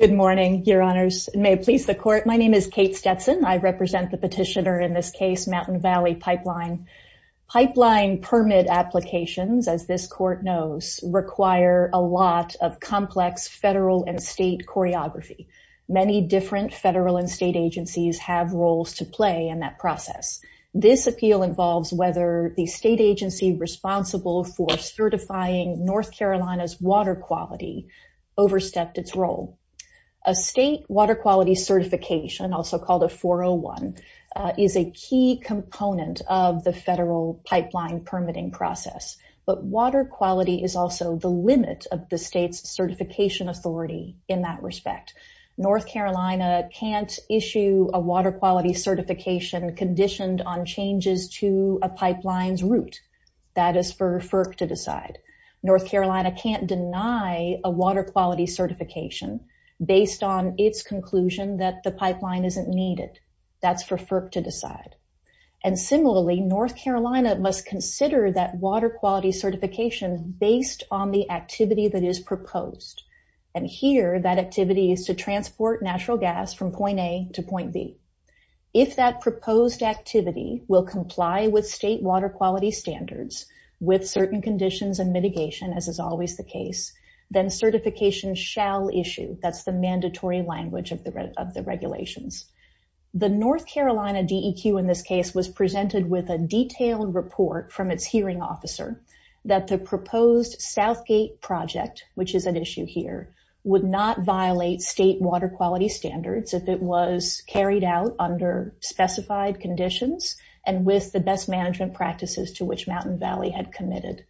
Good morning, your honors. May it please the court. My name is Kate Stetson. I represent the petitioner in this case, Mountain Valley Pipeline. Pipeline permit applications, as this court knows, require a lot of complex federal and state choreography. Many different federal and state agencies have roles to play in that process. This appeal involves whether the state agency responsible for certifying North Carolina's water quality overstepped its role. A state water quality certification, also called a 401, is a key component of the federal pipeline permitting process. But water quality is also the limit of the state's certification authority in that respect. North Carolina can't issue a water quality certification conditioned on changes to a pipeline's route. That is for FERC to decide. North Carolina can't deny a water quality certification based on its conclusion that the pipeline isn't needed. That's for FERC to decide. And similarly, North Carolina must consider that water quality certification based on the activity that is proposed. And here, that activity is to transport natural gas from point A to point B. If that proposed activity will comply with state water quality standards with certain conditions and mitigation, as is always the case, then certification shall issue. That's the mandatory language of the regulations. The North Carolina DEQ in this case was presented with a detailed report from its hearing officer that the proposed Southgate project, which is at issue here, would not violate state water standards if it was carried out under specified conditions and with the best management practices to which Mountain Valley had committed.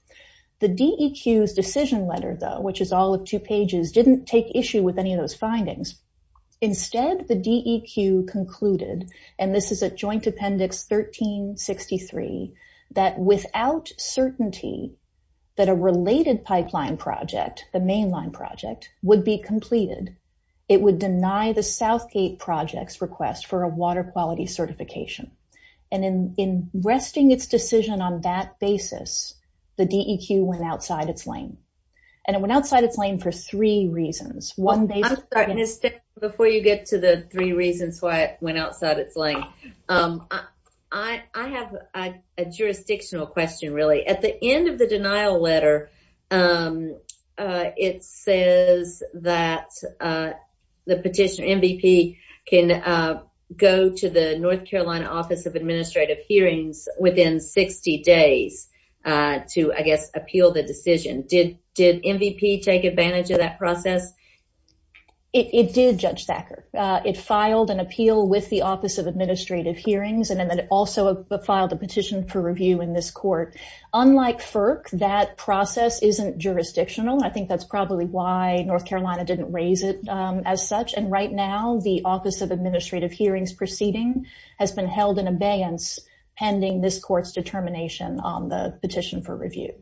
The DEQ's decision letter, though, which is all of two pages, didn't take issue with any of those findings. Instead, the DEQ concluded, and this is at joint appendix 1363, that without certainty that a related pipeline project, the mainline project, would be completed, it would deny the Southgate project's request for a water quality certification. And in resting its decision on that basis, the DEQ went outside its lane. And it went outside its lane for three reasons. One, they... I'm sorry, Ms. Stitt, before you get to the three reasons why it went outside its lane, I have a jurisdictional question, really. At the end of the denial letter, it says that the petitioner, MVP, can go to the North Carolina Office of Administrative Hearings within 60 days to, I guess, appeal the decision. Did MVP take advantage of that process? It did, Judge Thacker. It filed an appeal with the Office of Administrative Hearings, and then it filed a petition for review in this court. Unlike FERC, that process isn't jurisdictional. I think that's probably why North Carolina didn't raise it as such. And right now, the Office of Administrative Hearings proceeding has been held in abeyance pending this court's determination on the petition for review.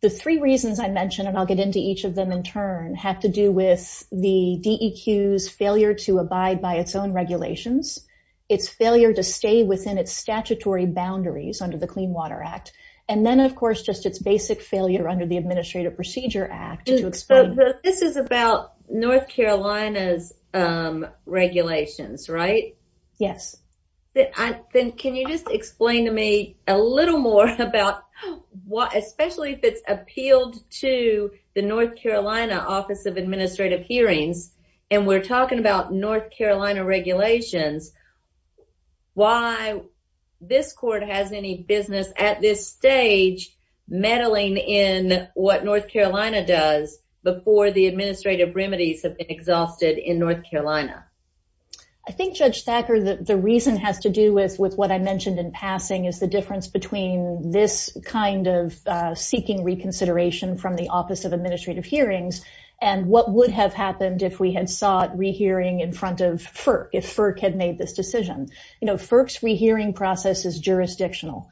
The three reasons I mentioned, and I'll get into each of them in turn, have to do with the DEQ's failure to abide by its own regulations, its failure to stay within its statutory boundaries under the Clean Water Act, and then, of course, just its basic failure under the Administrative Procedure Act to explain... This is about North Carolina's regulations, right? Yes. Then can you just explain to me a little more about, especially if it's appealed to the North Carolina Office of Administrative Hearings, and we're talking about North Carolina regulations, why this court has any business at this stage meddling in what North Carolina does before the administrative remedies have been exhausted in North Carolina? I think, Judge Thacker, the reason has to do with what I mentioned in passing is the difference between this kind of seeking reconsideration from the Office of Administrative Hearings and what would have happened if we had sought rehearing in front of FERC, if FERC had made this decision. FERC's rehearing process is jurisdictional.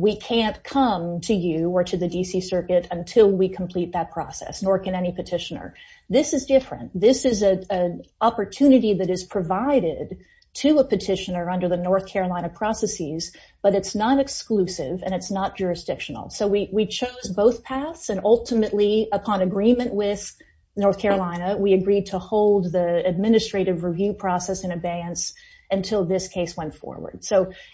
We can't come to you or to the D.C. Circuit until we complete that process, nor can any petitioner. This is different. This is an opportunity that is provided to a petitioner under the North Carolina processes, but it's not exclusive and it's not jurisdictional. We chose both paths, and ultimately, upon agreement with North Carolina, we agreed to hold the administrative review process in abeyance until this case went forward.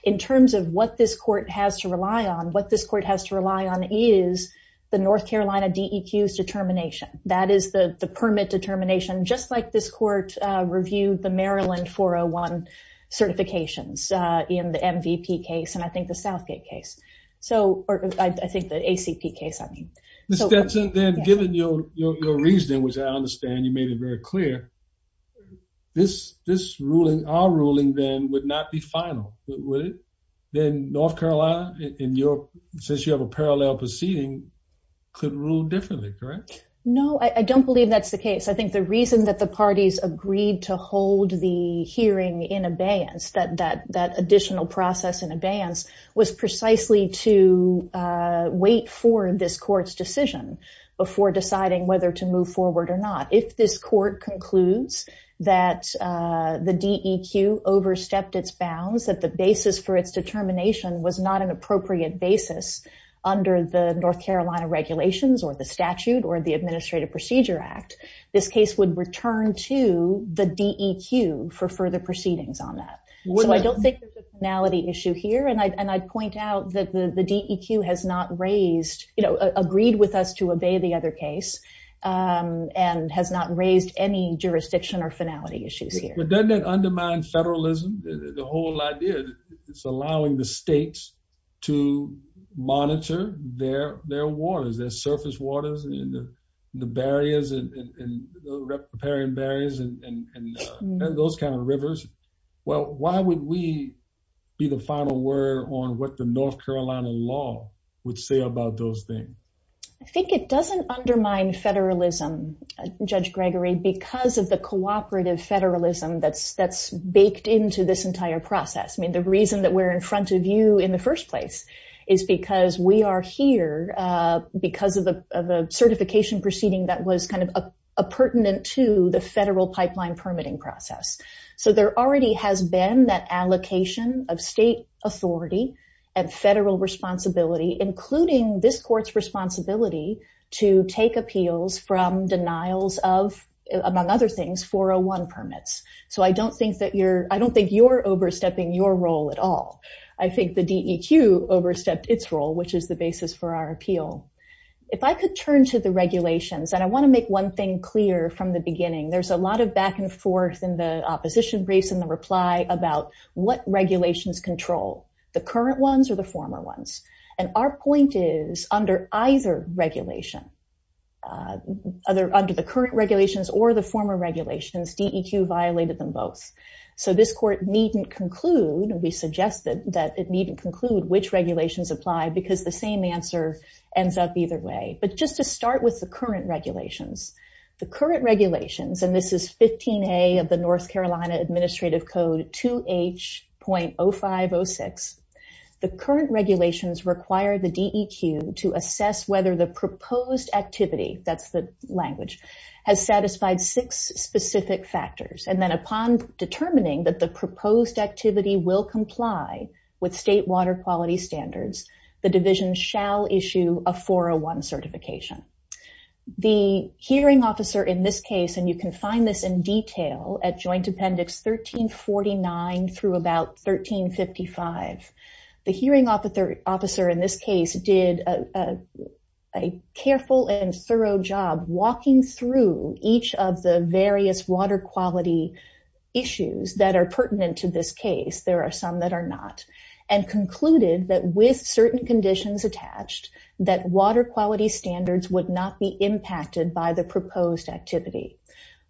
In terms of what this court has to rely on, what this court has to rely on is the North Carolina DEQ's determination. That is the permit determination, just like this court reviewed the Maryland 401 certifications in the MVP case and I think the Southgate case, or I think the ACP case, I mean. Ms. Stetson, then given your reasoning, which I understand you made it very clear, this ruling, our ruling then, would not be final, would it? Then North Carolina, since you have a parallel proceeding, could rule differently, correct? No, I don't believe that's the case. I think the reason that the parties agreed to hold the hearing in abeyance, that additional process in abeyance, was precisely to wait for this court's decision before deciding whether to move forward or not. If this court concludes that the DEQ overstepped its bounds, that the basis for its determination was not an administrative procedure act, this case would return to the DEQ for further proceedings on that. So I don't think there's a finality issue here and I'd point out that the DEQ has not raised, you know, agreed with us to obey the other case and has not raised any jurisdiction or finality issues here. But doesn't that undermine federalism, the whole idea that it's allowing the states to the barriers and preparing barriers and those kind of rivers? Well, why would we be the final word on what the North Carolina law would say about those things? I think it doesn't undermine federalism, Judge Gregory, because of the cooperative federalism that's baked into this entire process. I mean, the reason that we're in front of you in the was kind of a pertinent to the federal pipeline permitting process. So there already has been that allocation of state authority and federal responsibility, including this court's responsibility to take appeals from denials of, among other things, 401 permits. So I don't think that you're, I don't think you're overstepping your role at all. I think the DEQ overstepped its role, which is the basis for our appeal. If I could turn to the regulations, and I want to make one thing clear from the beginning, there's a lot of back and forth in the opposition race and the reply about what regulations control, the current ones or the former ones. And our point is under either regulation, either under the current regulations or the former regulations, DEQ violated them both. So this court needn't conclude, we suggested that it needn't conclude which regulations apply because the same answer ends up either way. But just to start with the current regulations, the current regulations, and this is 15A of the North Carolina Administrative Code, 2H.0506, the current regulations require the DEQ to assess whether the proposed activity, that's the language, has satisfied six specific factors. And then upon determining that the division shall issue a 401 certification. The hearing officer in this case, and you can find this in detail at Joint Appendix 1349 through about 1355, the hearing officer in this case did a careful and thorough job walking through each of the various water quality issues that are with certain conditions attached that water quality standards would not be impacted by the proposed activity.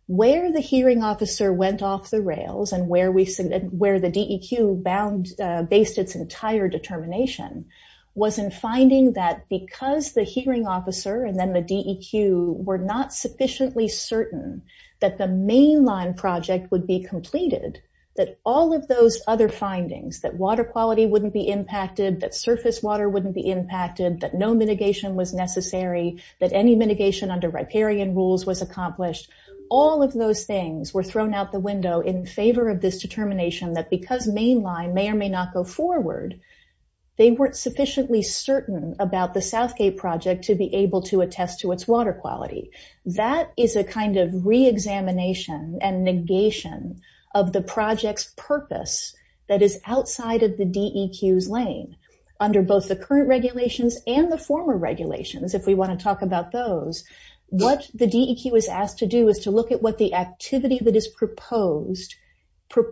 Where the hearing officer went off the rails and where the DEQ based its entire determination was in finding that because the hearing officer and then the DEQ were not sufficiently certain that the mainline project would be completed, that all of those other findings, that water quality wouldn't be impacted, that surface water wouldn't be impacted, that no mitigation was necessary, that any mitigation under riparian rules was accomplished, all of those things were thrown out the window in favor of this determination that because mainline may or may not go forward, they weren't sufficiently certain about the Southgate project to be able to attest to its water quality. That is a kind of re-examination and negation of the project's purpose that is outside of the DEQ's lane under both the current regulations and the former regulations, if we want to talk about those. What the DEQ is asked to do is to look at what the activity that is proposed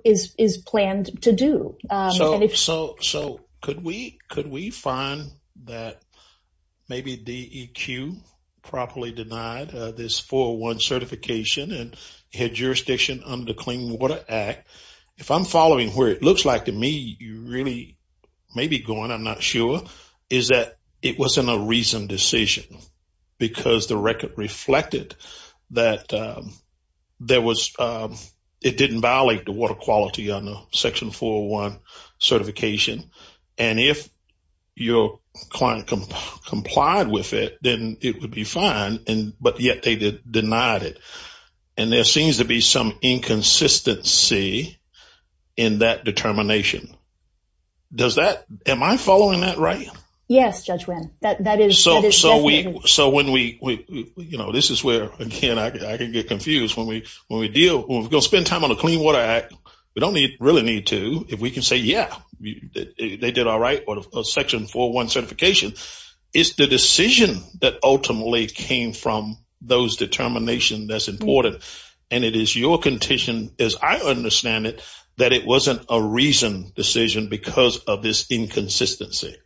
is planned to do. So could we find that maybe DEQ properly denied this 401 certification and had jurisdiction under the Clean Water Act? If I'm following where it looks like to me, you really may be going, I'm not sure, is that it wasn't a reasoned decision because the record reflected that there was, it didn't violate the water quality under Section 401 certification. And if your client complied with it, then it would be fine, but yet they denied it. And there seems to be some inconsistency in that determination. Does that, am I following that right? Yes, Judge Wynn. So when we, you know, this is where, again, I can get confused when we deal, when we're going to the Clean Water Act, we don't really need to, if we can say, yeah, they did all right with Section 401 certification. It's the decision that ultimately came from those determinations that's important. And it is your condition, as I understand it, that it wasn't a reasoned decision because of this inconsistency.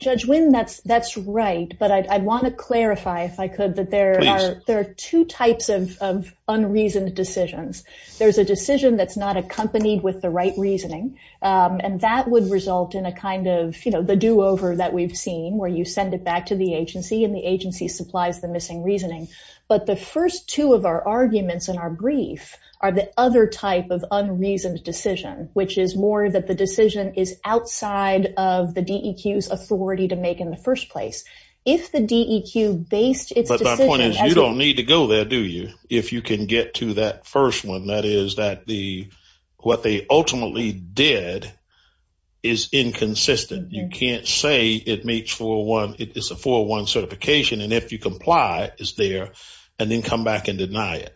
Judge Wynn, that's right. But I want to clarify if I could that there are two types of unreasoned decisions. There's a decision that's not accompanied with the right reasoning. And that would result in a kind of, you know, the do-over that we've seen, where you send it back to the agency and the agency supplies the missing reasoning. But the first two of our arguments in our brief are the other type of unreasoned decision, which is more that the decision is outside of the DEQ's authority to make in the first place. If the DEQ based its decision... But my point is, you don't need to go there, do you? If you can get to that first one, that is, that the, what they ultimately did is inconsistent. You can't say it meets 401, it's a 401 certification, and if you comply, it's there, and then come back and deny it.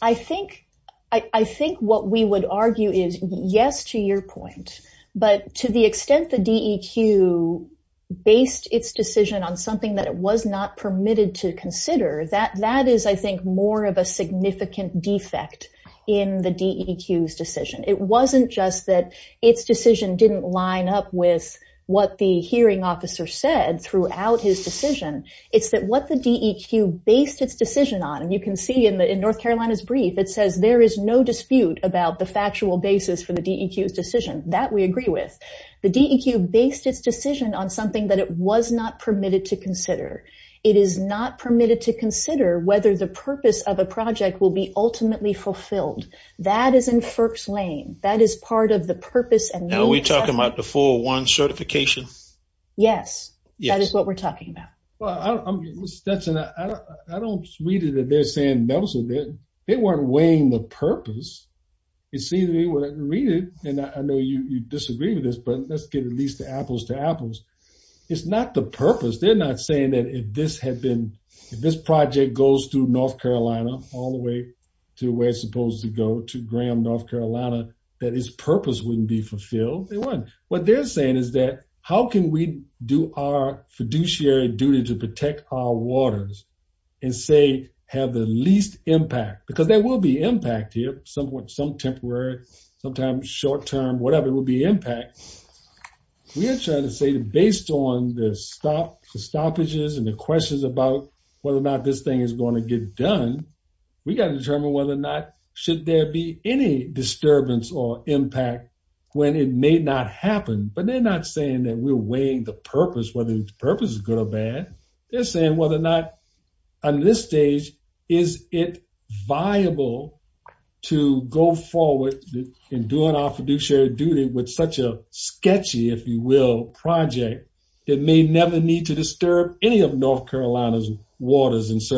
I think, I think what we would argue is, yes, to your point. But to the extent the DEQ based its decision on something that it was not permitted to consider, that is, I think, more of a significant defect in the DEQ's decision. It wasn't just that its decision didn't line up with what the hearing officer said throughout his decision. It's that what the DEQ based its decision on, and you can see in North Carolina's brief, it says there is no dispute about the factual basis for the DEQ's decision. That we agree with. The DEQ based its decision on something that it was not permitted to consider. It is not permitted to consider whether the purpose of a project will be ultimately fulfilled. That is in FERC's lane. That is part of the purpose and... Now we're talking about the 401 certification? Yes. That is what we're talking about. Well, I don't read it that they're saying those are, they weren't weighing the purpose. It seems to me when I read it, and I know you disagree with this, but let's get at least the apples to apples. It's not the purpose. They're not saying that if this had been, if this project goes through North Carolina all the way to where it's supposed to go, to Graham, North Carolina, that its purpose wouldn't be fulfilled. They weren't. They're saying is that, how can we do our fiduciary duty to protect our waters and say, have the least impact? Because there will be impact here. Some temporary, sometimes short-term, whatever, it will be impact. We are trying to say that based on the stoppages and the questions about whether or not this thing is going to get done, we got to determine whether or not, should there be any disturbance or impact when it may not happen. But they're not saying that we're weighing the purpose, whether the purpose is good or bad. They're saying whether or not on this stage, is it viable to go forward in doing our fiduciary duty with such a sketchy, if you will, project that may never need to disturb any of North Carolina's waters and They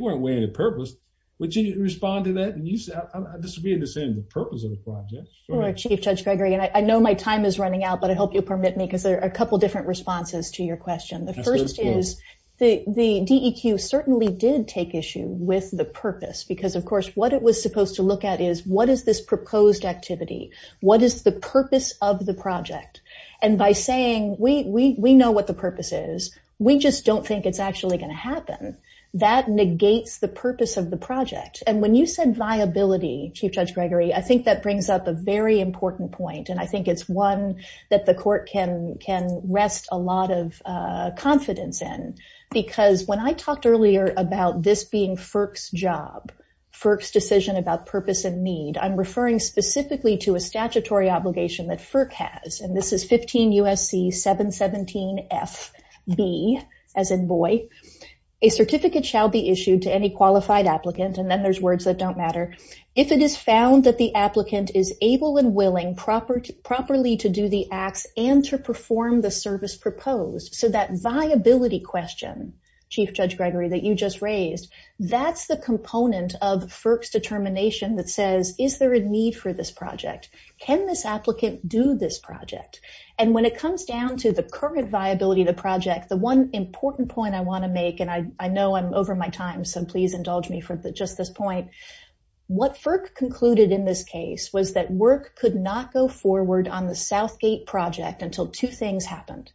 weren't weighing the purpose. Would you respond to that? And you said, I disagree with the saying the purpose of the project. Sure, Chief Judge Gregory. And I know my time is running out, but I hope you'll permit me, because there are a couple of different responses to your question. The first is the DEQ certainly did take issue with the purpose. Because of course, what it was supposed to look at is what is this proposed activity? What is the purpose of the project? And by saying, we know what the purpose is, we just don't think it's actually going to happen. That negates the purpose of the project. And when you said viability, Chief Judge Gregory, I think that brings up a very important point. And I think it's one that the court can rest a lot of confidence in. Because when I talked earlier about this being FERC's job, FERC's decision about purpose and need, I'm referring specifically to a statutory obligation that FERC has. And this is 15 U.S.C. 717 F.B., as in boy. A certificate shall be issued to any qualified applicant. And then there's words that don't matter. If it is found that the applicant is able and willing properly to do the acts and to perform the service proposed. So that viability question, Chief Judge Gregory, that you just raised, that's the component of FERC's do this project. And when it comes down to the current viability of the project, the one important point I want to make, and I know I'm over my time, so please indulge me for just this point. What FERC concluded in this case was that work could not go forward on the Southgate project until two things happened.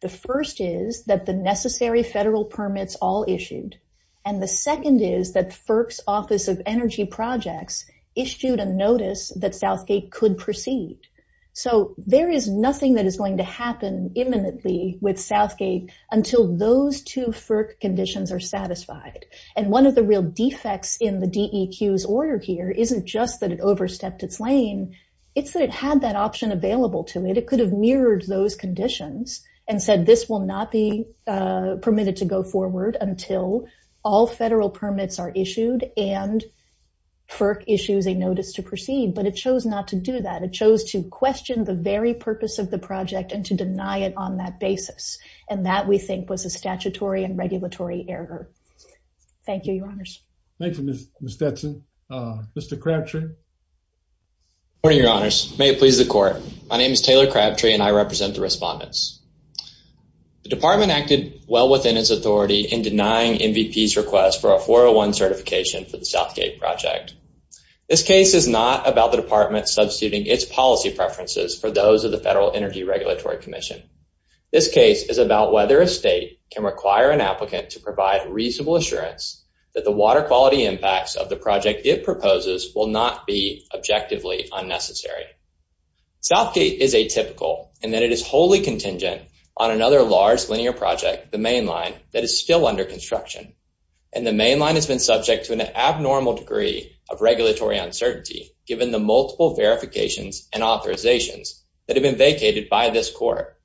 The first is that the necessary federal permits all issued. And the second is that FERC's Office of Energy Projects issued a notice that Southgate could proceed. So there is nothing that is going to happen imminently with Southgate until those two FERC conditions are satisfied. And one of the real defects in the DEQ's order here isn't just that it overstepped its lane, it's that it had that option available to it. It could have mirrored those conditions and said this will not be permitted to go forward until all federal permits are issued and FERC issues a notice to proceed. But it chose not to do that. It chose to question the very purpose of the project and to deny it on that basis. And that, we think, was a statutory and regulatory error. Thank you, Your Honors. Thank you, Ms. Stetson. Mr. Crabtree? Good morning, Your Honors. May it please the Court. My name is Taylor Crabtree and I represent the Southgate Project. This case is not about the Department substituting its policy preferences for those of the Federal Energy Regulatory Commission. This case is about whether a state can require an applicant to provide reasonable assurance that the water quality impacts of the project it proposes will not be objectively unnecessary. Southgate is atypical in that it is wholly contingent on another large linear project, the mainline, that is still under construction. And the mainline has been subject to an abnormal degree of regulatory uncertainty given the multiple verifications and authorizations that have been vacated by this Court.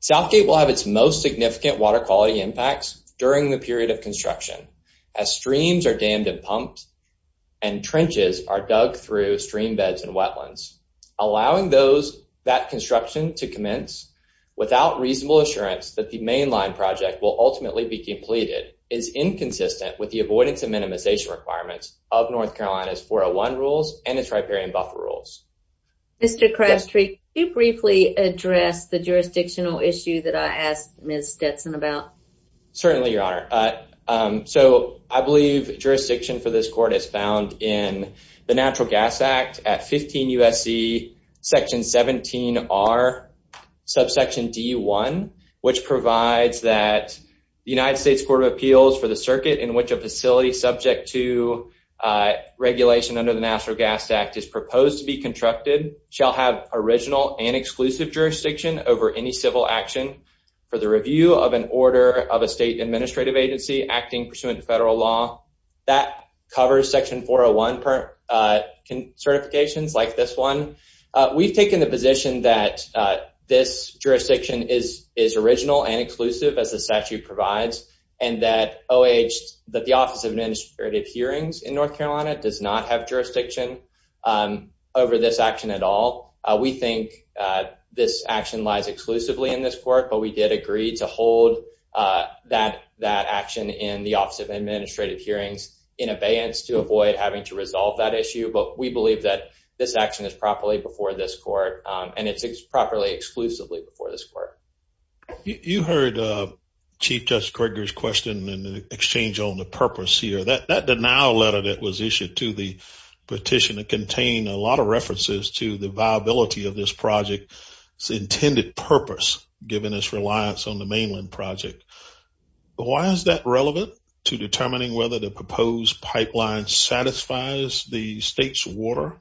Southgate will have its most significant water quality impacts during the period of construction as streams are dammed and pumped and trenches are dug through stream beds and wetlands, allowing that construction to commence without reasonable assurance that the mainline project will ultimately be completed is inconsistent with the avoidance and minimization requirements of North Carolina's 401 rules and its riparian buffer rules. Mr. Crabtree, could you briefly address the jurisdictional issue that I asked Ms. Stetson about? Certainly, Your Honor. So I believe jurisdiction for this Court is found in the Natural Gas Act at 15 U.S.C. Section 17R, subsection D.1, which provides that the United States Court of Appeals for the circuit in which a facility subject to regulation under the National Gas Act is proposed to be constructed shall have original and exclusive jurisdiction over any civil action for the review of an order of a state administrative agency acting pursuant to federal law. That covers Section 401 certifications like this one. We've taken the position that this jurisdiction is original and exclusive, as the statute provides, and that the Office of Administrative Hearings in North Carolina does not have jurisdiction over this action at all. We think this action lies exclusively in this Court, but we did agree to hold that action in the Office of Administrative Hearings in abeyance to avoid having to resolve that issue. But we believe that this action is properly before this Court, and it's properly, exclusively before this Court. You heard Chief Judge Krieger's question in exchange on the purpose here. That denial letter that was issued to the petitioner contained a lot of references to the viability of this project's intended purpose, given its reliance on the mainland project. Why is that relevant to determining whether the proposed pipeline satisfies the state's water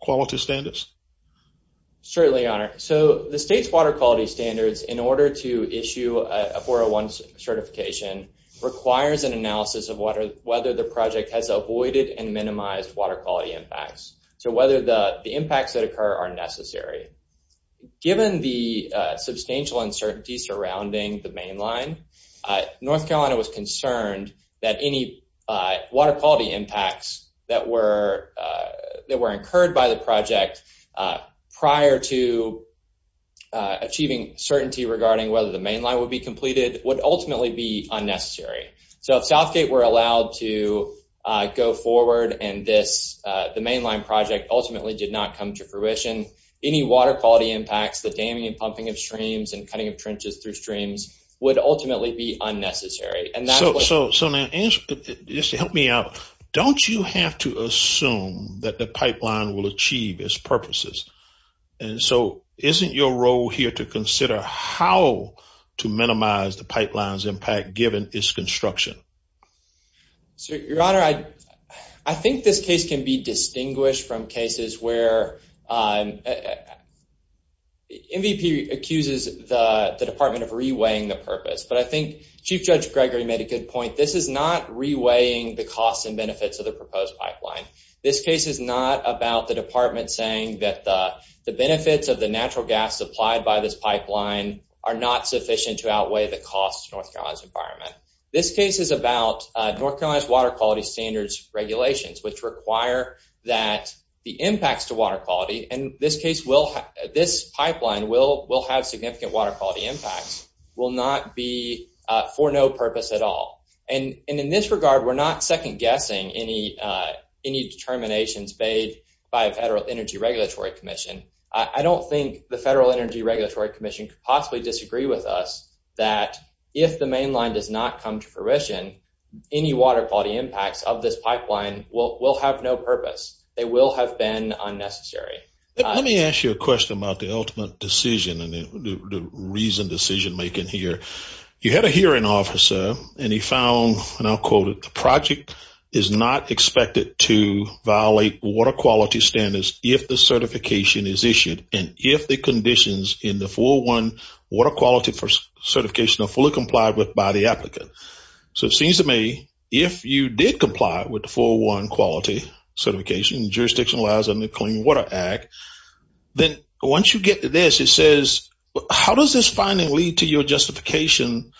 quality standards? Certainly, Your Honor. So, the state's water quality standards, in order to issue a 401 certification, requires an analysis of whether the project has avoided and minimized water quality impacts. So, whether the impacts that occur are necessary. Given the substantial uncertainty surrounding the mainline, North Carolina was concerned that any water quality impacts that were incurred by the project prior to achieving certainty regarding whether the mainline would be completed would ultimately be unnecessary. So, if Southgate were allowed to go forward and the mainline project ultimately did not come to fruition, any water quality impacts, the damming and pumping of streams, and cutting of trenches through streams would ultimately be unnecessary. So, now, just to help me out, don't you have to assume that the pipeline will achieve its purposes? And so, isn't your role here to consider how to minimize the pipeline's impact, given its construction? So, Your Honor, I think this case can be distinguished from cases where MVP accuses the department of reweighing the purpose. But I think Chief Judge Gregory made a good point. This is not reweighing the costs and benefits of the proposed pipeline. This case is not about the department saying that the benefits of the natural gas supplied by this pipeline are not sufficient to outweigh the costs to North Carolina's environment. This case is about North Carolina's water quality standards regulations, which require that the impacts to water quality, and this pipeline will have significant water quality impacts, will not be for no purpose at all. And in this regard, we're not second-guessing any determinations made by a Federal Energy Regulatory Commission. I don't think the Federal Energy Regulatory Commission could possibly disagree with us that if the mainline does not come to fruition, any water quality impacts of this pipeline will have no purpose. They will have been unnecessary. Let me ask you a question about the ultimate decision and the reason decision-making here. You had a hearing officer, and he found, and I'll quote it, the project is not expected to violate water quality standards if the certification is issued, and if the conditions in the 401 water quality certification are fully complied with by the applicant. So it seems to me, if you did comply with 401 quality certification, jurisdictionalized under the Clean Water Act, then once you get to this, it says, how does this finally lead to your justification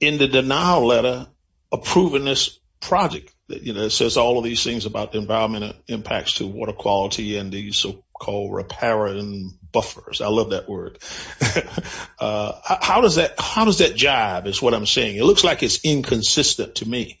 in the denial letter approving this project? It says all of these things about the environment impacts to water quality and the so-called riparian buffers. I love that word. How does that jive is what I'm saying. It looks like it's inconsistent to me.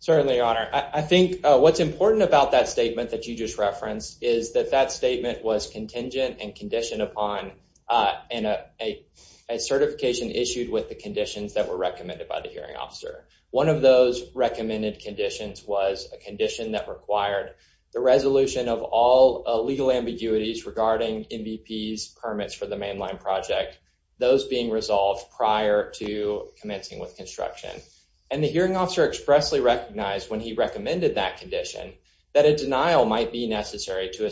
Certainly, Your Honor. I think what's important about that statement that you just referenced is that that statement was contingent and conditioned upon a certification issued with the conditions that were recommended by the hearing officer. One of those recommended conditions was a condition that required the resolution of all legal ambiguities regarding MVP's permits for the mainline project, those being resolved prior to commencing with construction. And the hearing officer expressly recognized when he recommended that condition that a denial might be necessary to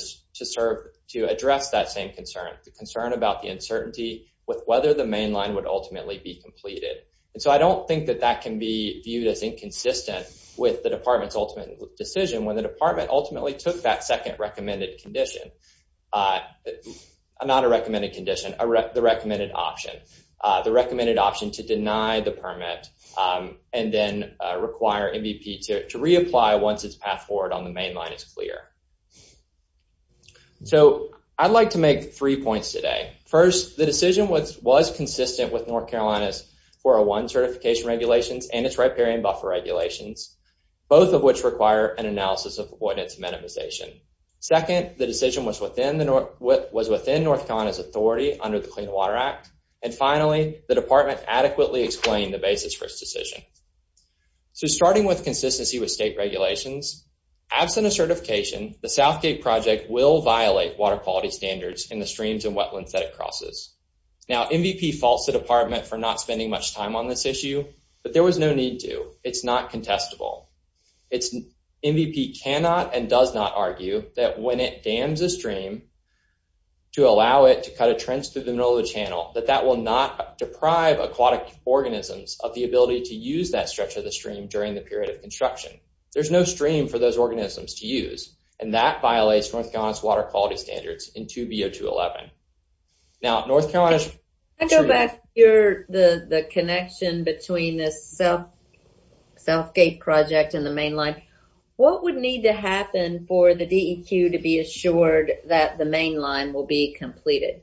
address that same concern, the concern about the uncertainty with whether the mainline would ultimately be completed. And so I don't think that that can be viewed as inconsistent with the department's ultimate decision when the department ultimately took that second recommended condition, not a recommended condition, the recommended option, the recommended option to deny the permit and then require MVP to reapply once its path forward on the mainline is clear. So I'd like to make three points today. First, the decision was consistent with North Carolina's 401 certification regulations and its riparian buffer regulations, both of which require an analysis of the ordinance amortization. Second, the decision was within North Carolina's authority under the Clean Water Act. And finally, the department adequately explained the basis for its decision. So starting with consistency with state regulations, absent a certification, the Southgate project will violate water quality standards in the North Carolina water quality standards in 2B0211. Now, North Carolina's the connection between this Southgate project and the mainline, what would need to happen for the DEQ to be assured that the mainline will be completed?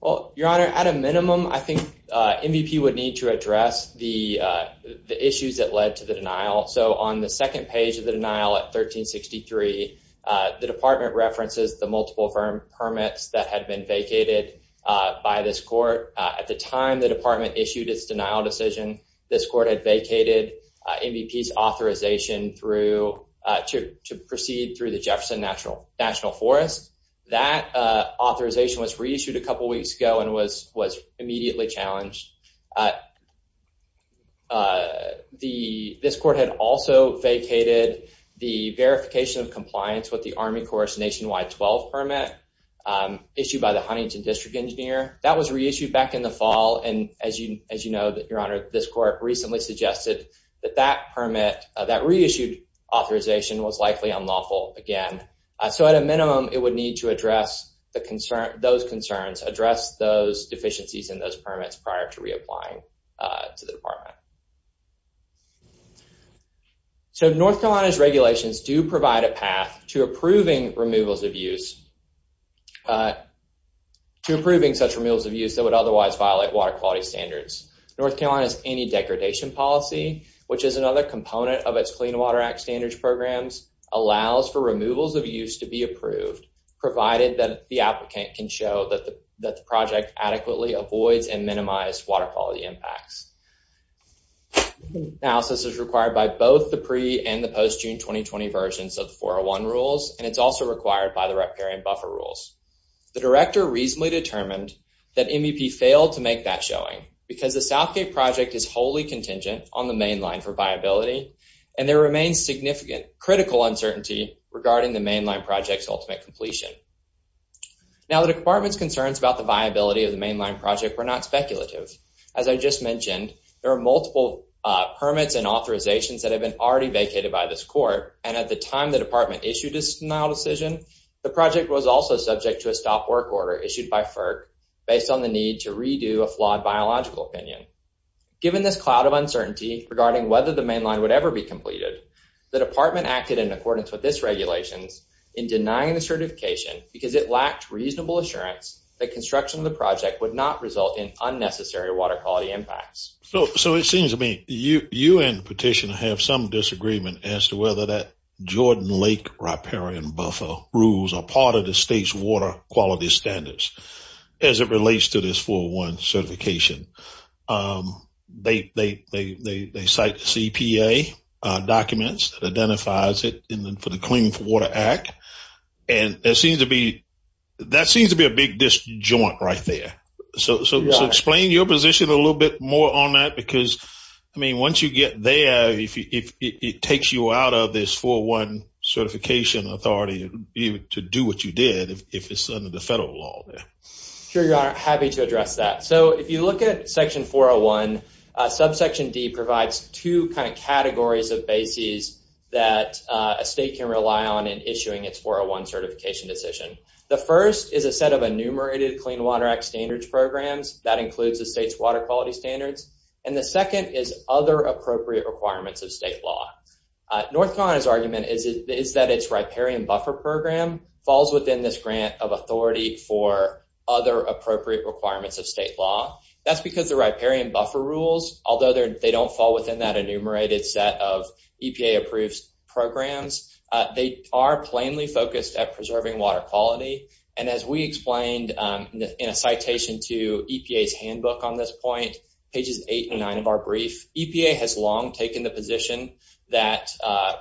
Well, Your Honor, at a minimum, I think MVP would need to address the issues that led to the denial. So on the second page of the denial at 1363, the department references the multiple firm permits that had been vacated by this court. At the time the department issued its denial decision, this court had vacated MVP's authorization to proceed through the Jefferson National Forest. That authorization was reissued a couple weeks ago and was immediately challenged. This court had also vacated the verification of compliance with the Army Corps Nationwide 12 Permit issued by the Huntington District Engineer. That was reissued back in the fall, and as you know, Your Honor, this court recently suggested that that permit, that reissued authorization was likely unlawful again. So at a minimum, it would need to address those concerns, address those deficiencies in those permits prior to reapplying to the department. So North Carolina's regulations do provide a path to approving removals of use, to approving such removals of use that would otherwise violate water quality standards. North Carolina's anti-degradation policy, which is another component of its Clean Water Act standards programs, allows for removals of use to be approved, provided that the applicant can show that the project adequately avoids and minimizes water quality impacts. Analysis is required by both the pre- and the post-June 2020 versions of the 401 rules, and it's also required by the Reparation Buffer Rules. The Director reasonably determined that MEP failed to make that showing because the Southgate project is wholly contingent on the mainline for viability, and there remains significant critical uncertainty regarding the mainline project's ultimate completion. Now the department's concerns about the viability of the mainline project were not speculative. As I just mentioned, there are multiple permits and authorizations that have been already vacated by this court, and at the time the department issued this denial decision, the project was also subject to a stop work order issued by FERC based on the need to redo a flawed biological opinion. Given this cloud of uncertainty regarding whether the mainline would ever be completed, the department acted in accordance with this regulations in denying the certification because it lacked reasonable assurance that construction of the project would not result in unnecessary water quality impacts. So it seems to me you and petitioner have some disagreement as to whether that Jordan Lake Riparian Buffer Rules are part of the state's water quality standards as it relates to this 401 certification. They cite CPA documents that identifies it for the Clean Water Act, and that seems to be a big joint right there. So explain your position a little bit more on that, because I mean once you get there, if it takes you out of this 401 certification authority, you would be able to do what you did if it's under the federal law. Sure, your honor, happy to address that. So if you look at section 401, subsection D provides two kind of categories of bases that a state can rely on in issuing its 401 certification decision. The first is a set of enumerated Clean Water Act standards programs that includes the state's water quality standards, and the second is other appropriate requirements of state law. North Carolina's argument is that its Riparian Buffer Program falls within this grant of authority for other appropriate requirements of state law. That's because the Riparian Buffer Rules, although they don't fall within that enumerated set of standards, are plainly focused at preserving water quality. And as we explained in a citation to EPA's handbook on this point, pages 8 and 9 of our brief, EPA has long taken the position that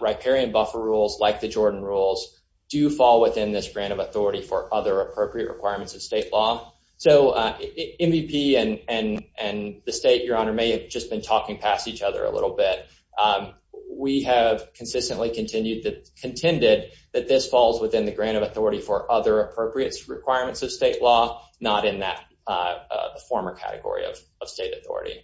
Riparian Buffer Rules, like the Jordan Rules, do fall within this grant of authority for other appropriate requirements of state law. So MVP and the state, your honor, may have just been talking past each other a little bit. We have consistently contended that this falls within the grant of authority for other appropriate requirements of state law, not in that former category of state authority.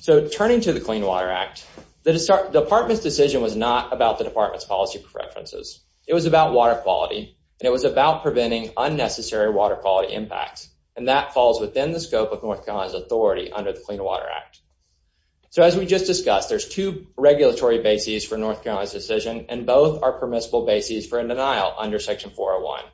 So turning to the Clean Water Act, the department's decision was not about the department's policy preferences. It was about water quality, and it was about preventing unnecessary water quality impacts, and that falls within the scope of North Carolina's authority under the Clean Water Act. So as we just discussed, there's two regulatory bases for North Carolina's decision, and both are permissible bases for a denial under Section 401.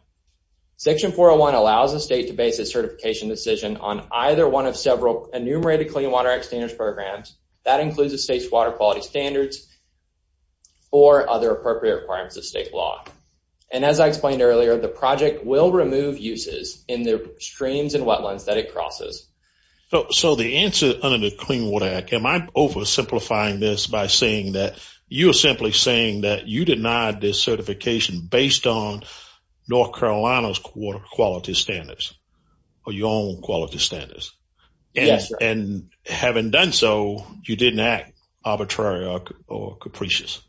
Section 401 allows the state to base its certification decision on either one of several enumerated Clean Water Act standards programs. That includes the state's water quality standards or other appropriate requirements of state law. And as I explained earlier, the project will remove uses in the streams and wetlands that it crosses. So the answer under the Clean Water Act, am I oversimplifying this by saying that you're simply saying that you denied this certification based on North Carolina's quality standards or your own quality standards? Yes, sir. And having done so, you didn't act arbitrary or capricious?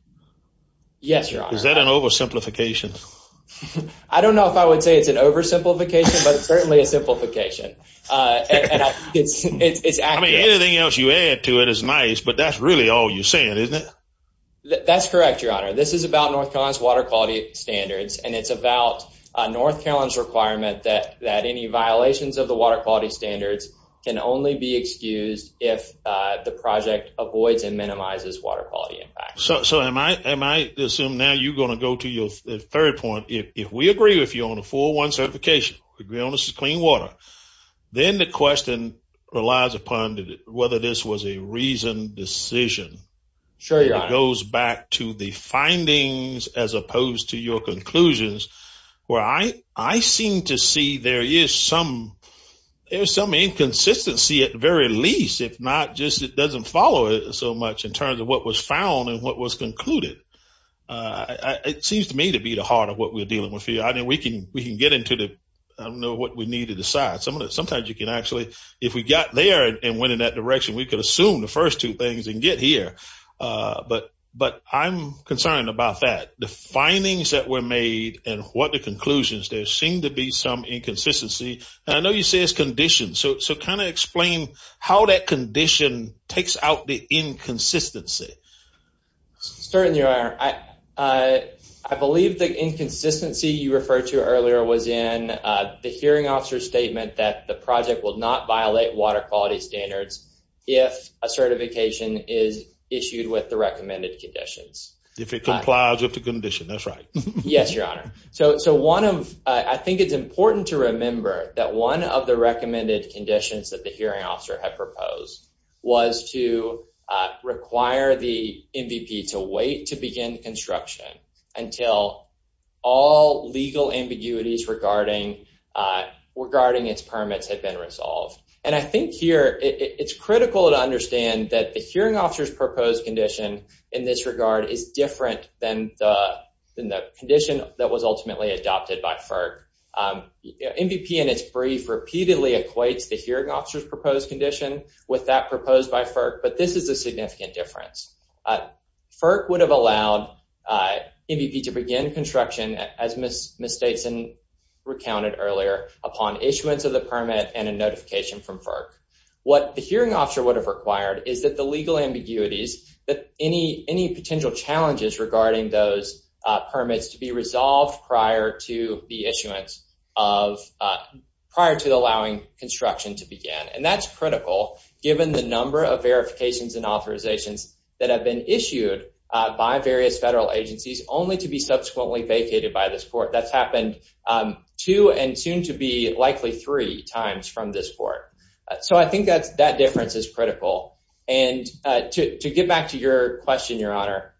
Yes, your honor. Is that an oversimplification? I don't know if I would say it's an oversimplification, but it's certainly a simplification. I mean anything else you add to it is nice, but that's really all you're saying, isn't it? That's correct, your honor. This is about North Carolina's water quality standards, and it's about North Carolina's requirement that any violations of the water quality standards can only be excused if the project avoids and minimizes water quality impacts. So am I assuming now you're going to go to your third point. If we agree if you own a 401 certification, agree on this is clean water, then the question relies upon whether this was a reasoned decision. Sure, your honor. It goes back to the findings as opposed to your conclusions, where I seem to see there is some inconsistency at the very least, if not just it doesn't follow it so much in terms of what was found and what was concluded. It seems to me to be the heart of what we're dealing with here. I mean we can get into the I don't know what we need to decide. Sometimes you can actually, if we got there and went in that direction, we could assume the first two things and get here, but I'm concerned about that. The findings that were made and what the conclusions, there seemed to be some inconsistency. I know you say it's conditions, so kind of explain how that condition takes out the inconsistency. Certainly, your honor. I believe the inconsistency you referred to earlier was in the hearing officer's statement that the project will not violate water quality standards if a certification is issued with the recommended conditions. If it complies with the condition, that's right. Yes, your honor. I think it's important to remember that one of the recommended conditions that the hearing officer had proposed was to require the MVP to wait to begin construction until all legal ambiguities regarding its permits had been resolved. I think here it's critical to understand that the hearing officer's proposed condition in this regard is different than the condition that was ultimately adopted by FERC. MVP in its brief repeatedly equates the hearing officer's proposed condition with that proposed by FERC, but this is a significant difference. FERC would have allowed MVP to begin construction, as Ms. Stateson recounted earlier, upon issuance of the permit and a notification from FERC. What the hearing officer would have required is that the legal ambiguities, any potential challenges regarding those permits, to be resolved prior to the allowing construction to begin. That's critical given the number of verifications and authorizations that have been issued by various federal agencies only to be subsequently vacated by this court. That's happened two and soon to be likely three times from this court. I think that difference is critical. To get back to your question, Your Honor,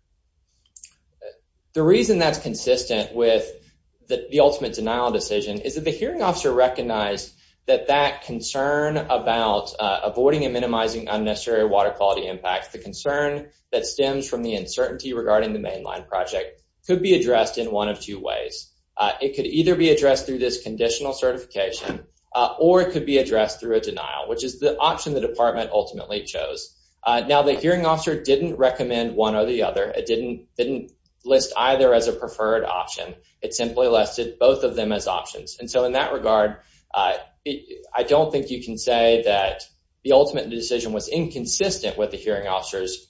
the reason that's consistent with the ultimate denial decision is that the hearing officer recognized that that concern about avoiding and minimizing unnecessary water quality impacts, the concern that stems from the uncertainty regarding the mainline project, could be addressed in one of two ways. It could either be addressed through this conditional certification or it could be addressed through a denial, which is the option the department ultimately chose. The hearing officer didn't recommend one or the other. It didn't list either as a preferred option. It simply listed both of them as options. In that regard, I don't think you can say that the ultimate decision was inconsistent with the hearing officer's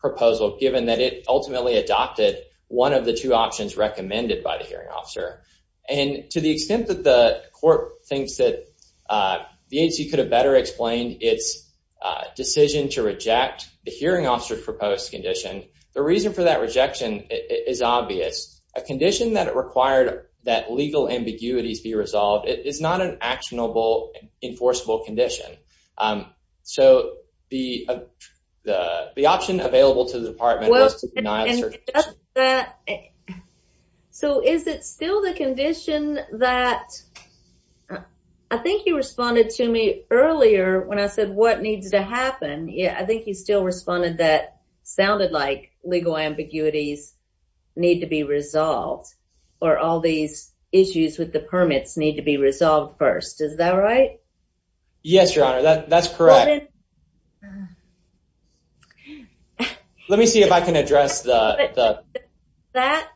proposal, given that it ultimately adopted one of the two options recommended by the hearing officer. To the extent that the court thinks that the agency could have better explained its decision to reject the hearing officer's proposed condition, the reason for that rejection is obvious. A condition that required that legal ambiguities be resolved is not an actionable, enforceable condition. The option available to the department is not a certain condition. Is it still the condition that I think you responded to me earlier when I said what needs to happen. I think you still responded that sounded like legal ambiguities need to be resolved or all these issues with the permits need to be resolved first. Is that right? Yes, Your Honor. That's correct. Let me see if I can address that. That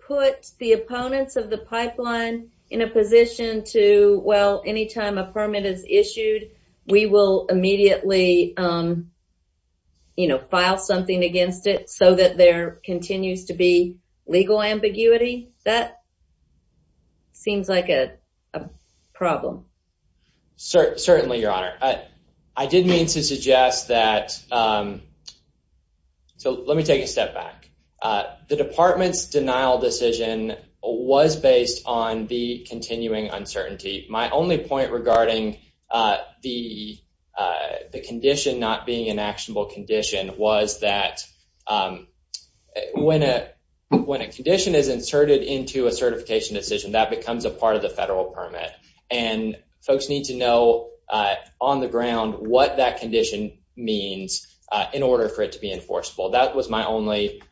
put the opponents of the pipeline in a position to, well, anytime a permit is issued, we will immediately file something against it so that there continues to be legal ambiguity. That seems like a problem. Certainly, Your Honor. I did mean to suggest that, so let me take a step back. The department's denial decision was based on the continuing uncertainty. My only point regarding the condition not being an actionable condition was that when a condition is inserted into a certification decision, that becomes a part of the federal permit. Folks need to know on the ground what that condition means in order for it to be enforceable. That was my only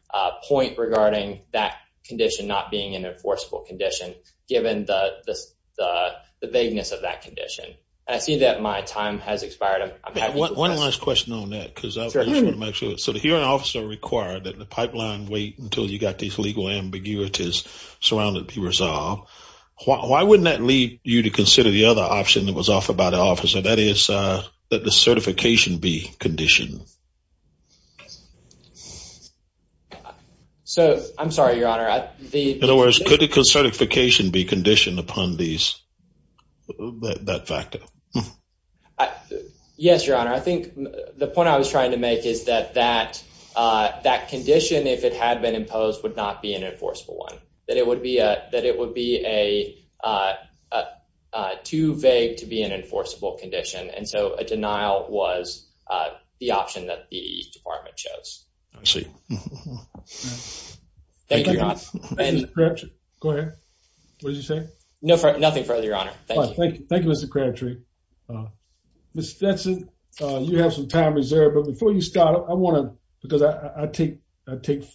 point regarding that condition not being an enforceable condition, given the vagueness of that condition. I see that my time has expired. One last question on that. The hearing officer required that the pipeline wait until you got these legal ambiguities surrounded to be resolved. Why wouldn't that lead you to consider the other option that was offered by the officer, that is, that the certification be conditioned? I'm sorry, Your Honor. In other words, could the certification be conditioned upon that factor? Yes, Your Honor. I think the point I was trying to make is that that condition, if it had been imposed, would not be an enforceable one. That it would be too vague to be an enforceable condition, and so a denial was the option that the department chose. I see. Thank you. Go ahead. What did you say? Nothing further, Your Honor. Thank you. Thank you, Mr. Crabtree. Ms. Jensen, you have some time reserved, but before you start, I want to, because I take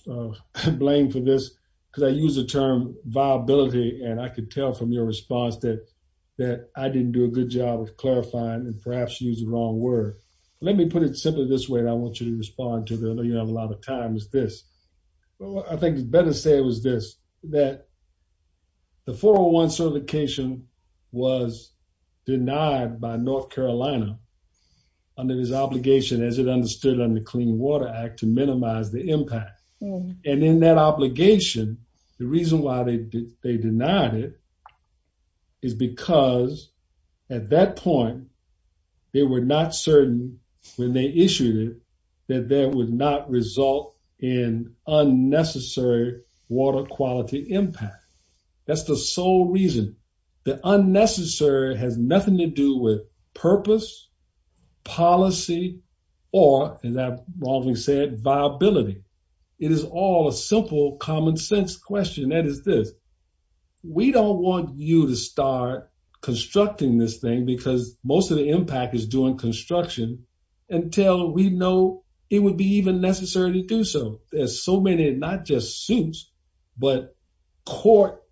blame for this, because I use the term viability, and I could tell from your response that I didn't do a good job of clarifying and perhaps using the wrong word. Let me put it simply this way, and I want you to respond to it. I know you don't have a lot of time. It's this. I think it's better to say it was this, that the 401 certification was denied by North Carolina under this obligation, as it understood under the Clean Water Act, to minimize the impact, and in that obligation, the reason why they denied it is because at that point, they were not certain when they issued it that that would not result in unnecessary water quality impact. That's the sole reason. The unnecessary has nothing to do with purpose, policy, or, as I wrongly said, viability. It is all a simple common sense question. That is this. We don't want you to start constructing this thing because most of the impact is doing construction until we know it would be even necessary to do so. There's so many, not just suits, but court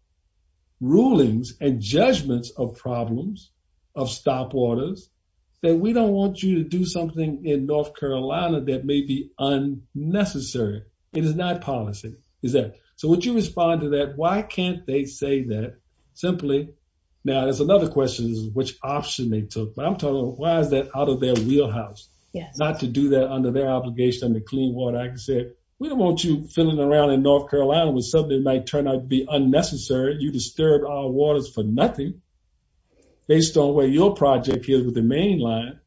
rulings and judgments of problems, of stop orders, that we don't want you to do something in North Carolina that may be unnecessary. It is not policy. So, would you respond to that? Why can't they say that simply? Now, there's another question, which option they took, but I'm talking about why is that out of their wheelhouse, not to do that under their obligation under Clean Water Act and say, we don't want you fiddling around in North Carolina when something might turn out to be unnecessary. You disturbed our waters for nothing based on where your project is with the main line.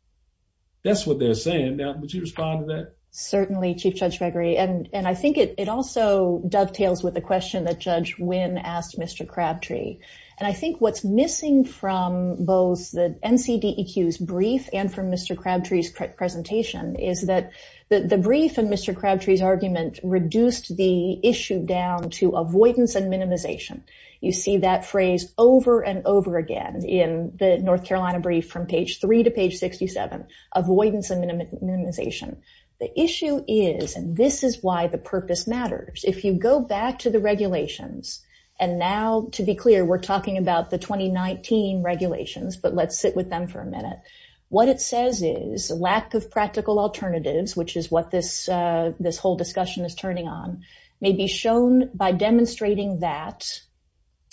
That's what they're saying. Now, would you respond to that? Certainly, Chief Judge Gregory, and I think it also dovetails with the question that Judge Wynn asked Mr. Crabtree. And I think what's missing from both the NCDEQ's brief and from Mr. Crabtree's presentation is that the brief and Mr. Crabtree's argument reduced the issue down to avoidance and minimization. You see that phrase over and over again in the North Carolina brief from page three to page 67, avoidance and minimization. The issue is, and this is why the purpose matters, if you go back to the regulations, and now, to be clear, we're talking about the 2019 regulations, but let's sit with them for a minute. What it says is, lack of practical alternatives, which is what this whole discussion is turning on, may be shown by demonstrating that,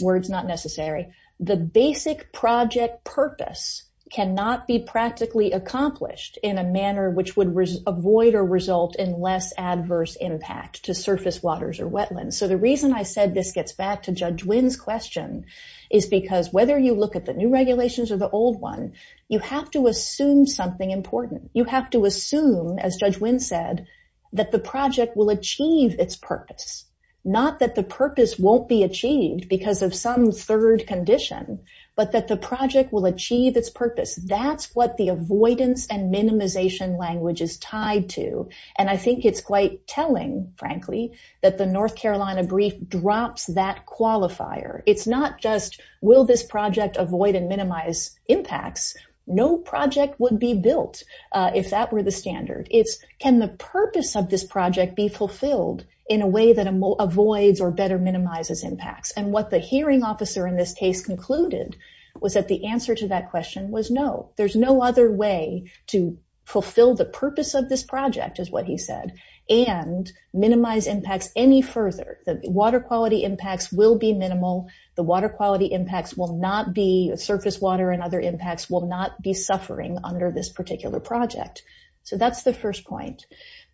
words not necessary, the basic project purpose cannot be practically accomplished in a manner which would avoid or result in less adverse impact to surface waters or wetlands. So, the reason I said this gets back to Judge Wynn's question is because whether you look at the new regulations or the old one, you have to assume something important. You have to assume, as Judge Wynn said, that the project will achieve its purpose. Not that the purpose won't be achieved because of some third condition, but that the project will achieve its purpose. That's what the avoidance and minimization language is tied to. And I think it's quite telling, frankly, that the North Carolina brief drops that qualifier. It's not just, will this project avoid and minimize impacts? No project would be built if that were the standard. It's, can the purpose of this project be fulfilled in a way that avoids or better minimizes impacts? And what the hearing officer in this case concluded was that the answer to that question was no. There's no other way to fulfill the purpose of this project, is what he said, and minimize impacts any further. The water quality impacts will be minimal. The water quality impacts will not be, surface water and other impacts, will not be suffering under this particular project. So, that's the first point.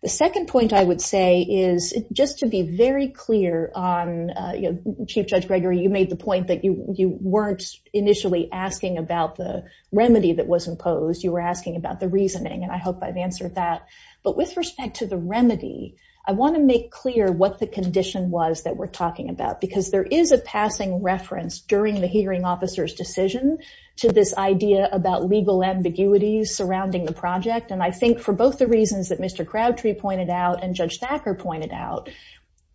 The second point I would say is, just to be very clear on, Chief Judge Gregory, you made the point that you weren't initially asking about the remedy that was imposed. You were asking about the reasoning, and I hope I've answered that. But with respect to the remedy, I want to make clear what the condition was that we're talking about, because there is a passing reference during the hearing officer's decision to this idea about legal ambiguities surrounding the project. And I think for both the reasons that Mr. Crabtree pointed out and Judge Thacker pointed out,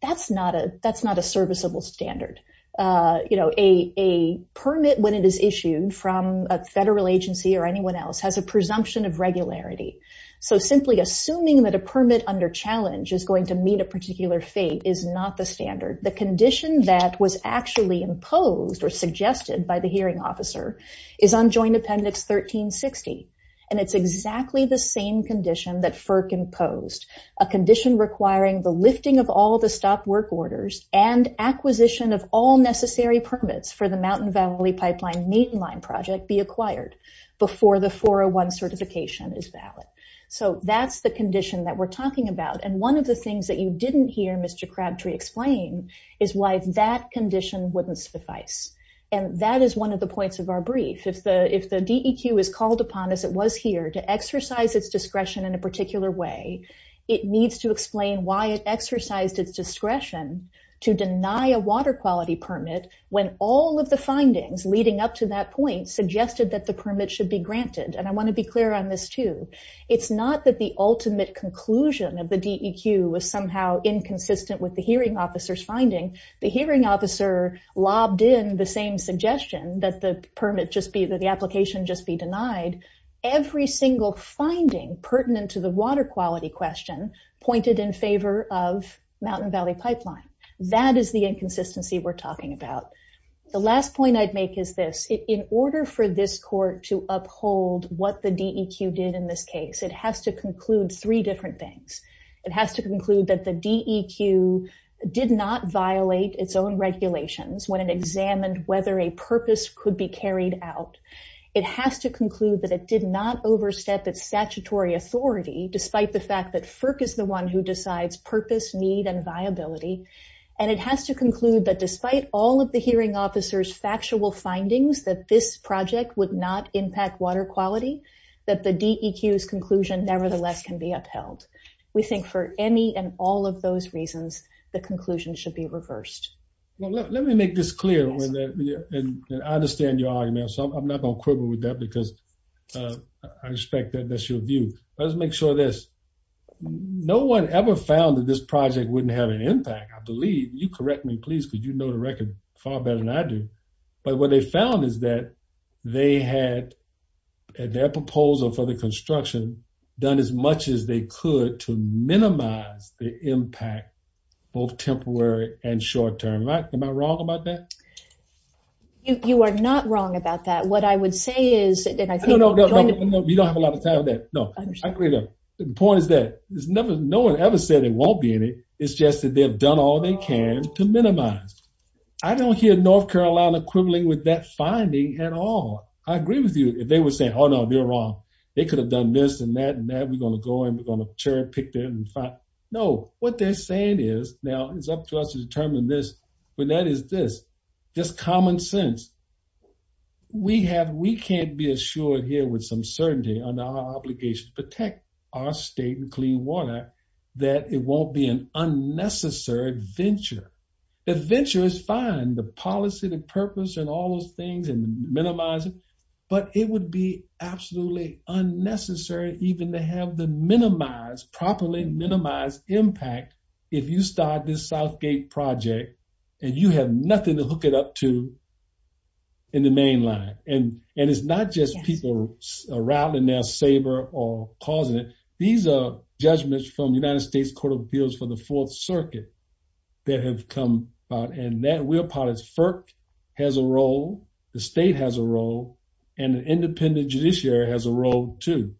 that's not a serviceable standard. A permit, when it is issued from a federal agency or anyone else, has a presumption of regularity. So, simply assuming that a permit under challenge is going to meet a particular fate is not the standard. The condition that was actually imposed or suggested by the hearing officer is on Joint Appendix 1360. And it's exactly the same condition that FERC imposed, a condition requiring the lifting of all the stopped work orders and acquisition of all necessary permits for the Mountain Valley Pipeline Maintenance Line Project be acquired before the 401 certification is valid. So, that's the condition that we're talking about. And one of the things that you didn't hear Mr. Crabtree explain is why that condition wouldn't suffice. And that is one of the points of our brief. If the DEQ is called upon, as it was here, to exercise its discretion in a particular way, it needs to explain why it exercised its discretion to deny a water quality permit when all of the findings leading up to that point suggested that the permit should be granted. And I want to be clear on this too. It's not that the ultimate conclusion of the DEQ was somehow inconsistent with the hearing officer's finding. The hearing officer lobbed in the same suggestion that the permit just be, that the application just be denied. Every single finding pertinent to the water quality question pointed in favor of Mountain Valley Pipeline. That is the inconsistency we're talking about. The last point I'd make is this. In order for this court to uphold what the DEQ did in this case, it has to conclude three different things. It has to conclude that the DEQ did not violate its own regulations when it examined whether a purpose could be carried out. It has to conclude that it did not overstep its statutory authority despite the fact that FERC is the one who decides purpose, need, and viability. And it has to conclude that despite all of the hearing officer's factual findings that this project would not impact water quality, that the DEQ's conclusion nevertheless can be upheld. We think for any and all of those reasons, the conclusion should be reversed. Let me make this clear. I understand your argument, so I'm not going to quibble with that because I respect that that's your view. Let's make sure this, no one ever found that this project wouldn't have an impact. I believe, you correct me please because you know the record far better than I do, but what they found is that they had their proposal for the construction done as much as they could to minimize the impact, both temporary and short-term. Am I wrong about that? You are not wrong about that. What I would say is, and I think- No, no, no, no, no, you don't have a lot of time for that. No, I agree though. The point is that no one ever said it won't be in it. It's just that they've done all they can to minimize. I don't hear North Carolina quibbling with that finding at all. I agree with you. If they were saying, oh no, they're wrong. They could have done this and that and that. We're going to go and we're going to pick that and find. No, what they're saying is, now it's up to us to determine this, but that is this, just common sense. We can't be assured here with some certainty under our obligation to protect our state and clean water that it won't be an unnecessary adventure. The adventure is fine, the policy, the purpose and all those things and minimizing, but it would be absolutely unnecessary even to have the minimized, properly minimized impact if you start this Southgate project and you have nothing to hook it up to in the main line. It's not just people rattling their saber or causing it. These are judgments from the United States Court of Appeals for the Fourth Circuit that have come out and that we're part of. FERC has a role, the state has a role, and the independent judiciary has a role too.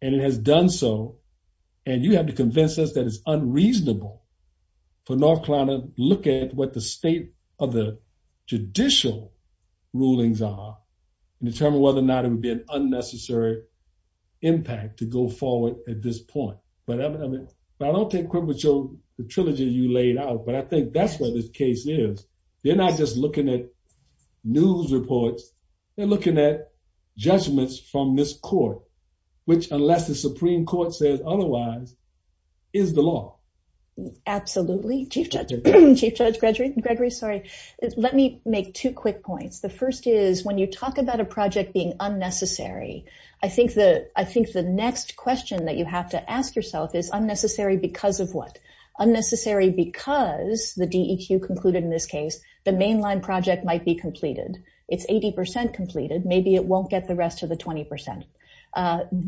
It has done so. You have to convince us that it's unreasonable for North Carolina to look at the state of the judicial rulings and determine whether or not it would be an unnecessary impact to go forward at this point. I don't take credit with the trilogy you laid out, but I think that's where this case is. They're not just looking at news reports, they're looking at judgments from this court, which unless the Supreme Court says otherwise, is the law. Absolutely. Chief Judge Gregory, let me make two quick points. The first is when you talk about a project being unnecessary, I think the next question that you have to ask yourself is unnecessary because of what? Unnecessary because the DEQ concluded in this case, the main line project might be completed. It's 80% completed. Maybe it won't get the rest of the 20%.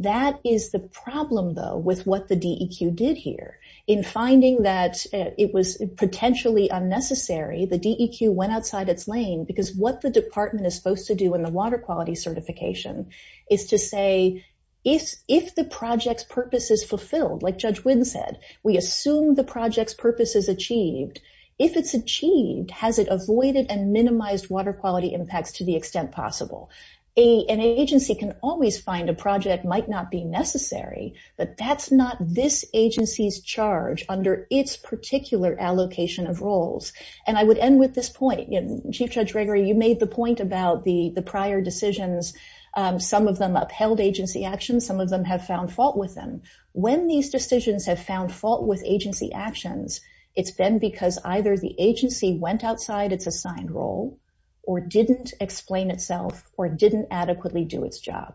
That is the problem though with what the DEQ did here. In finding that it was potentially unnecessary, the DEQ went outside its lane because what the department is supposed to do in the water quality certification is to say, if the project's purpose is fulfilled, like Judge Wynn said, we assume the project's purpose is achieved. If it's achieved, has it avoided and minimized water quality impacts to the extent possible. An agency can always find a project might not be necessary, but that's not this agency's charge under its particular allocation of roles. And I would end with this point. Chief Judge Gregory, you made the point about the prior decisions. Some of them upheld agency actions. Some of them have found fault with them. When these decisions have found fault with agency actions, it's been because either the agency went outside its assigned role or didn't explain itself or didn't adequately do its job.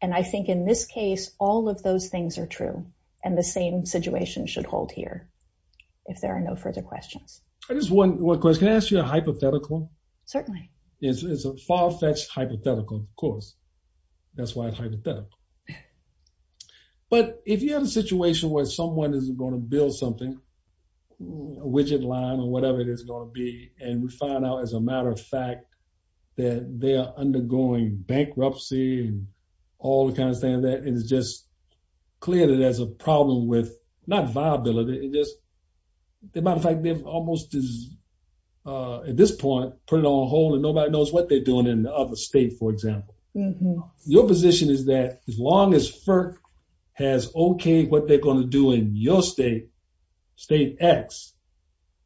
And I think in this case, all of those things are true and the same situation should hold here, if there are no further questions. I just want one question. Can I ask you a hypothetical? Certainly. It's a far-fetched hypothetical, of course. That's why it's hypothetical. But if you have a situation where someone is going to build something, a widget line or whatever it is going to be, and we find out, as a matter of fact, that they are undergoing bankruptcy and all the kinds of things like that, it's just clear that there's a problem with not viability, it's just the matter of fact, they've almost at this point put it on hold and nobody knows what they're doing in the other state, for example. Your position is that as long as FERC has okayed what they're going to do in your state, state X,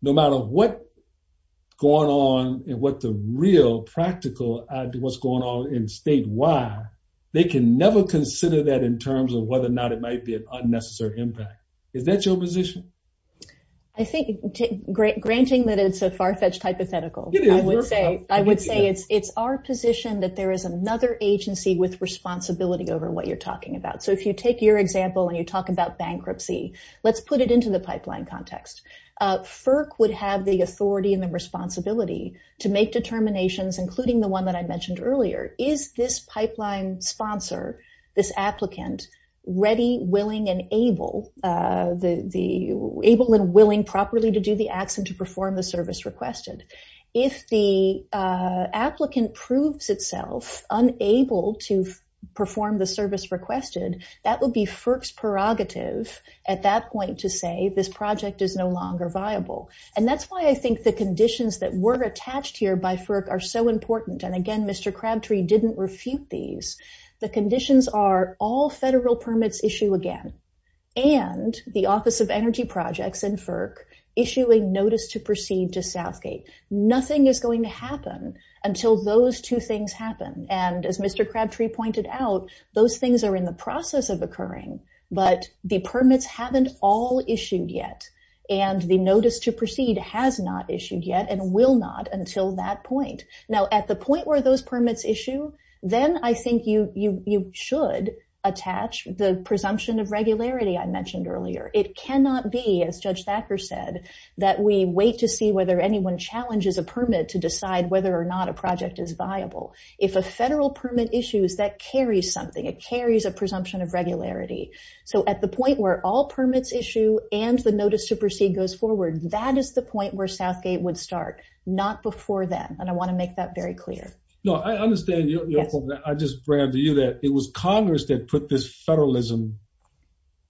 no matter what's going on and what the real practical, what's going on in state Y, they can never consider that in terms of whether or not it might be an unnecessary impact. Is that your position? I think, granting that it's a far-fetched hypothetical, I would say it's our position that there is another agency with responsibility over what you're talking about. If you take your example and you talk about bankruptcy, let's put it into the pipeline context. FERC would have the authority and the responsibility to make determinations, including the one that I mentioned earlier. Is this pipeline sponsor, this applicant, ready, willing and able, able and willing properly to do the acts and to perform the requested, that would be FERC's prerogative at that point to say this project is no longer viable. That's why I think the conditions that were attached here by FERC are so important. Again, Mr. Crabtree didn't refute these. The conditions are all federal permits issue again and the Office of Energy Projects and FERC issuing notice to proceed to Southgate. Nothing is going to happen until those two things happen. As Mr. Crabtree pointed out, those things are in the process of occurring, but the permits haven't all issued yet and the notice to proceed has not issued yet and will not until that point. Now, at the point where those permits issue, then I think you should attach the presumption of regularity I mentioned earlier. It cannot be, as Judge Thacker said, that we wait to see whether anyone challenges a permit to decide whether or not a project is viable. If a federal permit issues, that carries something. It carries a presumption of regularity. So at the point where all permits issue and the notice to proceed goes forward, that is the point where Southgate would start, not before then. And I want to make that very clear. No, I understand. I just branded you that it was Congress that put this federalism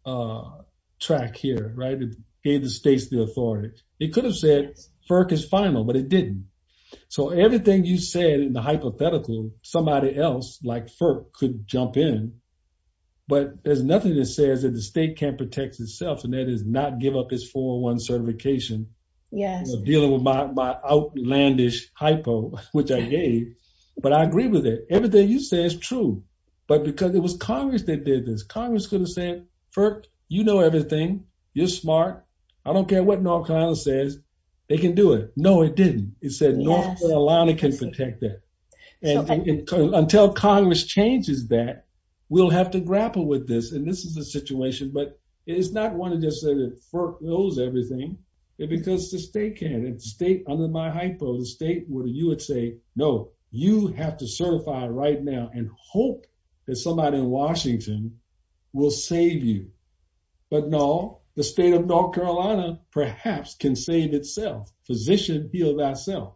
track here, right? It gave the states the authority. It could have said FERC is final, but it didn't. So everything you said in the hypothetical, somebody else like FERC could jump in, but there's nothing that says that the state can't protect itself and that is not give up its 401 certification. Yes. Dealing with my outlandish hypo, which I gave, but I agree with it. Everything you say is true, but because it was Congress that did this, Congress could have said, FERC, you know everything. You're smart. I don't care what North Carolina says. They can do it. No, it didn't. It said North Carolina can protect it. And until Congress changes that, we'll have to grapple with this. And this is a situation, but it is not one to just say that FERC knows everything. It's because the state can. And the state under my hypo, the state where you would say, no, you have to certify right now and hope that somebody in Washington will save you. But no, the state of North Carolina perhaps can save itself. Physician, heal thyself.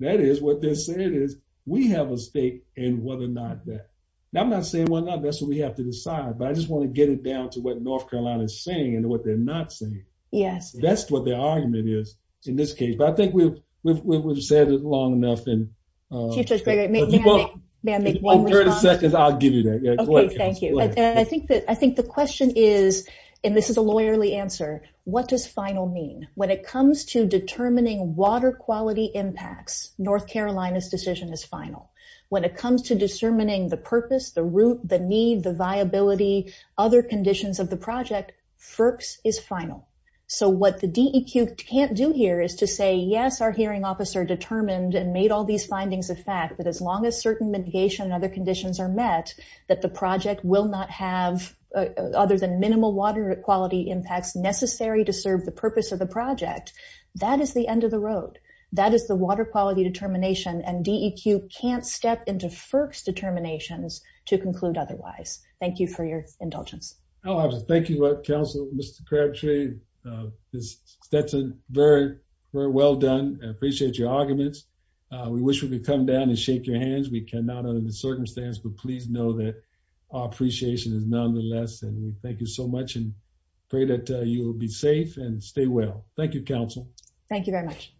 That is what they're saying is we have a state and whether or not that. And I'm not saying we're not. That's what we have to decide. But I just want to get it down to what North Carolina is saying and what they're not saying. Yes. That's what the argument is in this case. But I think we've said it long enough. Chief Judge Gregory, may I make one more comment? If you want 30 seconds, I'll give you 30 seconds. I think the question is, and this is a lawyerly answer. What does final mean? When it comes to determining water quality impacts, North Carolina's decision is final. When it comes to discerning the purpose, the route, the need, the viability, other conditions of the project, FERC's is final. So what the DEQ can't do here is to say, yes, our hearing officer determined and made all mitigation and other conditions are met, that the project will not have other than minimal water quality impacts necessary to serve the purpose of the project. That is the end of the road. That is the water quality determination and DEQ can't step into FERC's determinations to conclude otherwise. Thank you for your indulgence. Thank you, counsel, Mr. Crabtree. That's very, very well done. I appreciate your arguments. We wish we could come down and shake your hands. We cannot under the circumstance, but please know that our appreciation is nonetheless, and we thank you so much and pray that you will be safe and stay well. Thank you, counsel. Thank you very much.